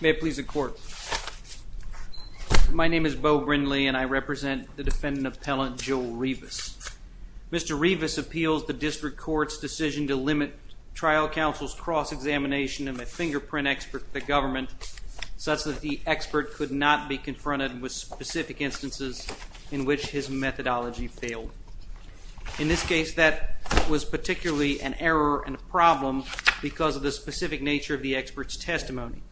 May it please the court. My name is Beau Brindley and I represent the defendant appellant Joel Rivas. Mr. Rivas appeals the district court's decision to limit trial counsel's cross-examination of a fingerprint expert for the government such that the expert could not be confronted with specific instances in which his methodology failed. In this case that was particularly an error and a problem because of the specific nature of the experts testimony.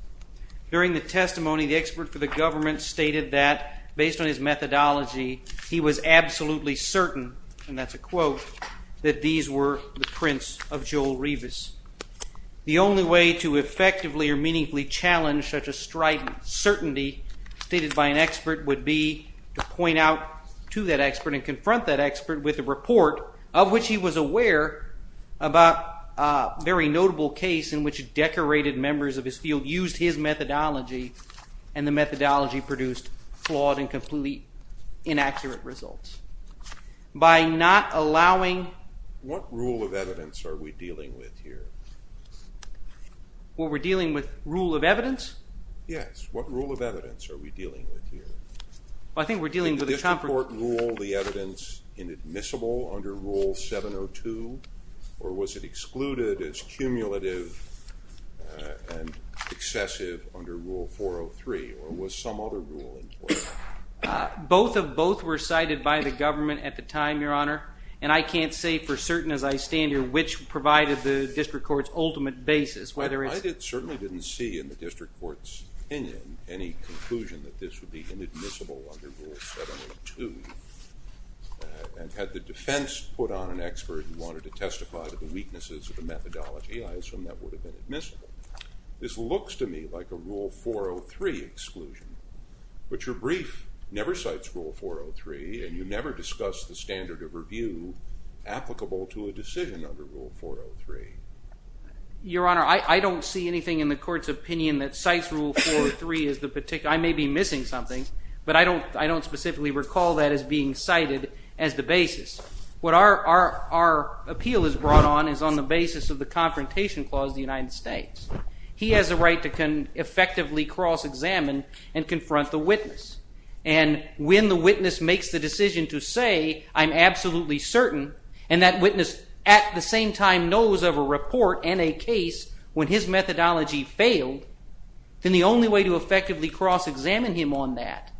During the testimony the expert for the government stated that based on his methodology he was absolutely certain and that's a quote that these were the prints of certainty stated by an expert would be to point out to that expert and confront that expert with a report of which he was aware about a very notable case in which decorated members of his field used his methodology and the methodology produced flawed and completely inaccurate results. By not allowing... What rule of evidence are we dealing with here? What we're dealing with rule of evidence? Yes, what rule of evidence are we dealing with here? I think we're dealing with... Did the district court rule the evidence inadmissible under rule 702 or was it excluded as cumulative and excessive under rule 403 or was some other rule in place? Both of both were cited by the government at the time your honor and I can't say for certain as I stand here which provided the district court's ultimate basis whether it's... I certainly didn't see in the district court's opinion any conclusion that this would be inadmissible under rule 702 and had the defense put on an expert who wanted to testify to the weaknesses of the methodology I assume that would have been admissible. This looks to me like a rule 403 exclusion but your brief never cites rule 403 and you never discussed the standard of Your honor, I don't see anything in the court's opinion that cites rule 403 as the particular... I may be missing something but I don't I don't specifically recall that as being cited as the basis. What our appeal is brought on is on the basis of the Confrontation Clause of the United States. He has a right to can effectively cross-examine and confront the witness and when the witness makes the decision to say I'm absolutely certain and that witness at the same time knows of a report and a case when his methodology failed then the only way to effectively cross-examine him on that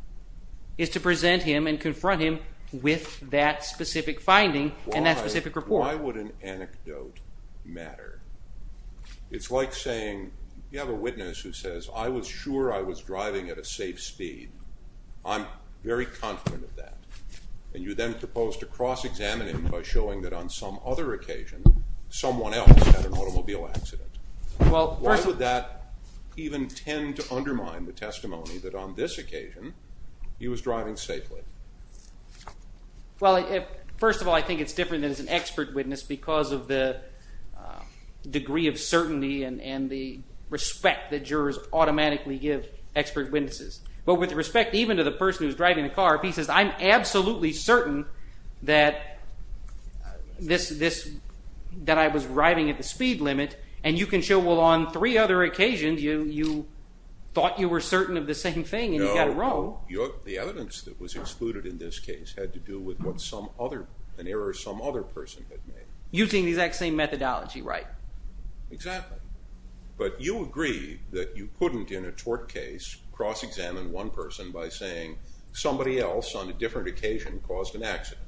is to present him and confront him with that specific finding and that specific report. Why would an anecdote matter? It's like saying you have a witness who says I was sure I was driving at a safe speed. I'm very confident of that and you then propose to cross-examine him by showing that on some other occasion someone else had an automobile accident. Why would that even tend to undermine the testimony that on this occasion he was driving safely? Well first of all I think it's different as an expert witness because of the degree of certainty and and the respect that jurors automatically give expert witnesses but with respect even to the person who's driving the car if he says I'm absolutely certain that this that I was driving at the speed limit and you can show well on three other occasions you thought you were certain of the same thing and you got it wrong. No, the evidence that was excluded in this case had to do with what some other, an error some other person had made. Using the exact same methodology, right. Exactly, but you agree that you couldn't in a tort case cross-examine one person by saying somebody else on a different occasion caused an accident.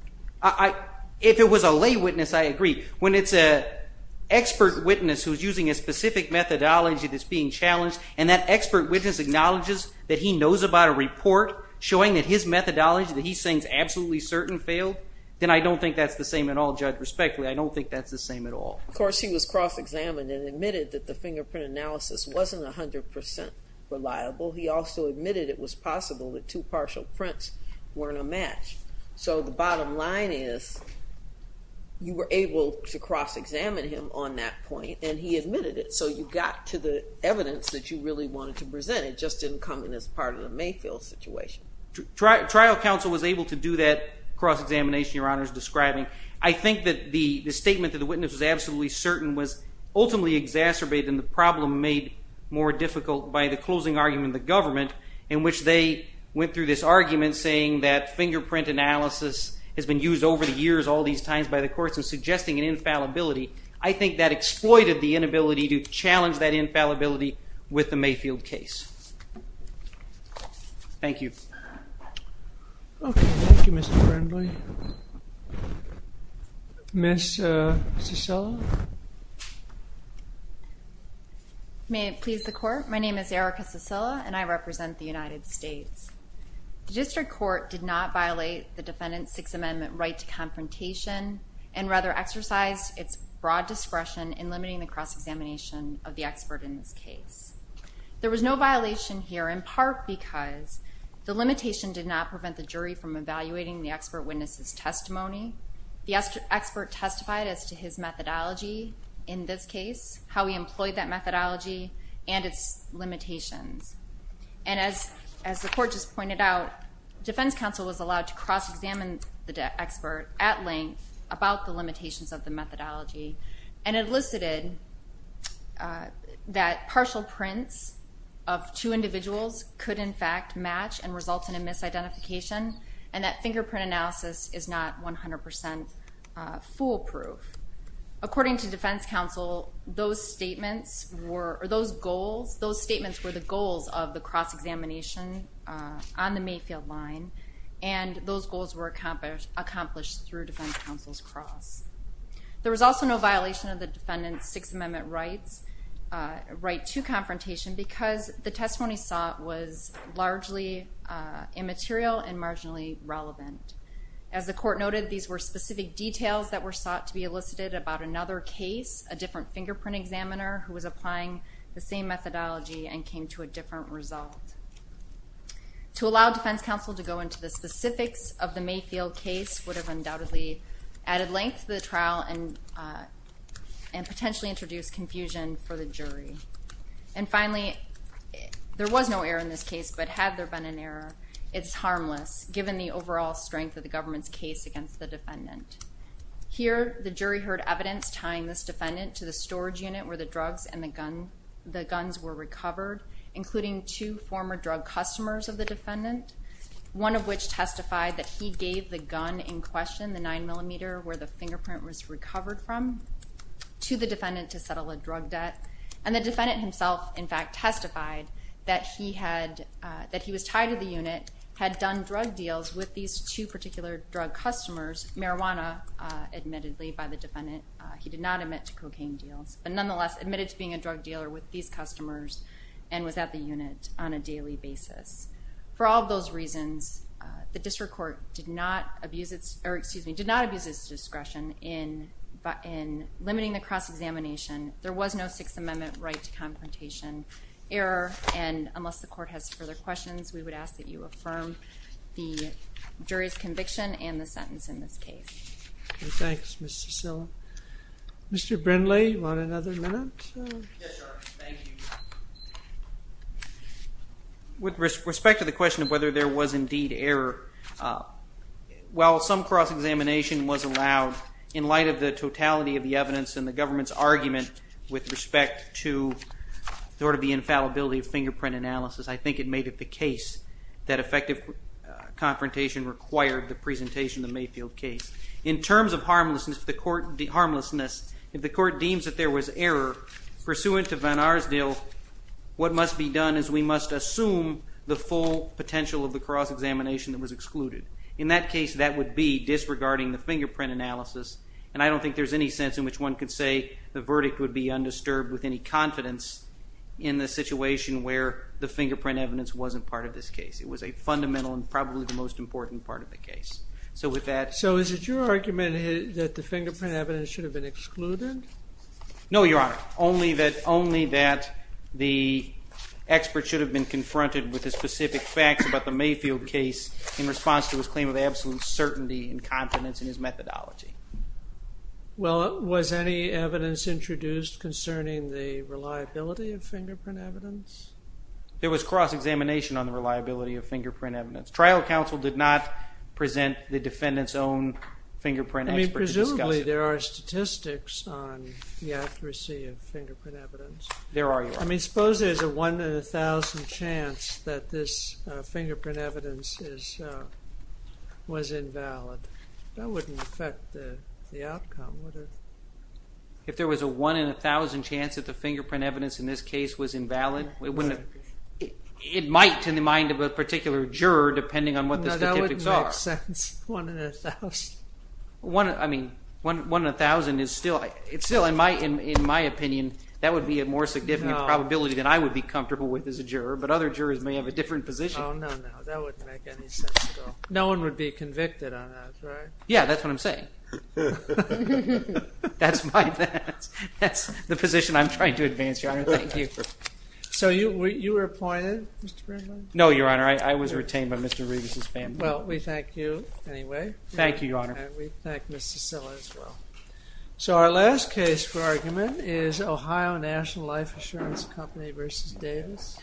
If it was a lay witness I agree. When it's a expert witness who's using a specific methodology that's being challenged and that expert witness acknowledges that he knows about a report showing that his methodology that he's saying is absolutely certain failed then I don't think that's the same at all Judge, respectfully I don't think that's the same at all. Of course he was cross-examined and admitted that the fingerprint analysis wasn't a hundred percent reliable. He also admitted it was possible that two partial prints weren't a match. So the bottom line is you were able to cross-examine him on that point and he admitted it so you got to the evidence that you really wanted to present it just didn't come in as part of the Mayfield situation. Trial counsel was able to do that cross-examination your honor's describing. I think that the statement that the witness was absolutely certain was ultimately exacerbated and the problem made more difficult by the closing argument the government in which they went through this argument saying that fingerprint analysis has been used over the years all these times by the courts and suggesting an infallibility. I think that exploited the inability to challenge that infallibility with the Mayfield case. Thank you. Okay, thank you Mr. Brindley. Ms. Cecilla. May it please the court my name is Erica Cecilla and I represent the United States. The district court did not violate the defendant's Sixth Amendment right to confrontation and rather exercised its broad discretion in limiting the cross-examination of the limitation did not prevent the jury from evaluating the expert witnesses testimony. The expert testified as to his methodology in this case how he employed that methodology and its limitations and as as the court just pointed out defense counsel was allowed to cross-examine the expert at length about the limitations of the methodology and elicited that partial prints of two misidentification and that fingerprint analysis is not 100% foolproof. According to defense counsel those statements were those goals those statements were the goals of the cross-examination on the Mayfield line and those goals were accomplished through defense counsel's cross. There was also no violation of the defendant's Sixth Amendment rights right to confrontation because the testimony sought was largely immaterial and marginally relevant. As the court noted these were specific details that were sought to be elicited about another case a different fingerprint examiner who was applying the same methodology and came to a different result. To allow defense counsel to go into the specifics of the Mayfield case would have undoubtedly added length to the trial and and potentially introduced confusion for the there was no error in this case but had there been an error it's harmless given the overall strength of the government's case against the defendant. Here the jury heard evidence tying this defendant to the storage unit where the drugs and the gun the guns were recovered including two former drug customers of the defendant one of which testified that he gave the gun in question the nine millimeter where the fingerprint was recovered from to the defendant to settle a drug debt and the defendant himself in fact testified that he had that he was tied to the unit had done drug deals with these two particular drug customers marijuana admittedly by the defendant he did not admit to cocaine deals but nonetheless admitted to being a drug dealer with these customers and was at the unit on a daily basis. For all those reasons the district court did not abuse its or excuse me did not abuse its discretion in but in limiting the cross-examination there was no Sixth Amendment right to confrontation error and unless the court has further questions we would ask that you affirm the jury's conviction and the sentence in this case. Thanks Miss Cicilla. Mr. Brindley you want another minute? With respect to the question of whether there was indeed error while some cross-examination was allowed in light of the totality of the evidence and the government's argument with respect to sort of the infallibility of fingerprint analysis I think it made it the case that effective confrontation required the presentation of Mayfield case. In terms of harmlessness if the court deems that there was error pursuant to Van Arsdale what must be done is we must assume the full potential of the cross-examination that was excluded. In that case that would be regarding the fingerprint analysis and I don't think there's any sense in which one could say the verdict would be undisturbed with any confidence in the situation where the fingerprint evidence wasn't part of this case. It was a fundamental and probably the most important part of the case. So with that So is it your argument that the fingerprint evidence should have been excluded? No your honor only that only that the expert should have been confronted with the specific facts about the Mayfield case in response to his absolute certainty and confidence in his methodology. Well was any evidence introduced concerning the reliability of fingerprint evidence? There was cross-examination on the reliability of fingerprint evidence. Trial counsel did not present the defendant's own fingerprint expert to discuss it. Presumably there are statistics on the accuracy of fingerprint evidence. There are your honor. I mean suppose there's a one in a thousand chance that this fingerprint evidence was invalid. That wouldn't affect the outcome would it? If there was a one in a thousand chance that the fingerprint evidence in this case was invalid, it might in the mind of a particular juror depending on what the statistics are. That wouldn't make sense. One in a thousand is still in my opinion that would be a more significant probability than I would be comfortable with as a juror but other jurors may have a different position. No one would be convicted on that right? Yeah that's what I'm saying. That's the position I'm trying to advance your honor. Thank you. So you were appointed? No your honor I was retained by Mr. Regas's family. Well we thank you anyway. Thank you your honor. So our last case for argument is Ohio National Life Insurance Company versus Davis.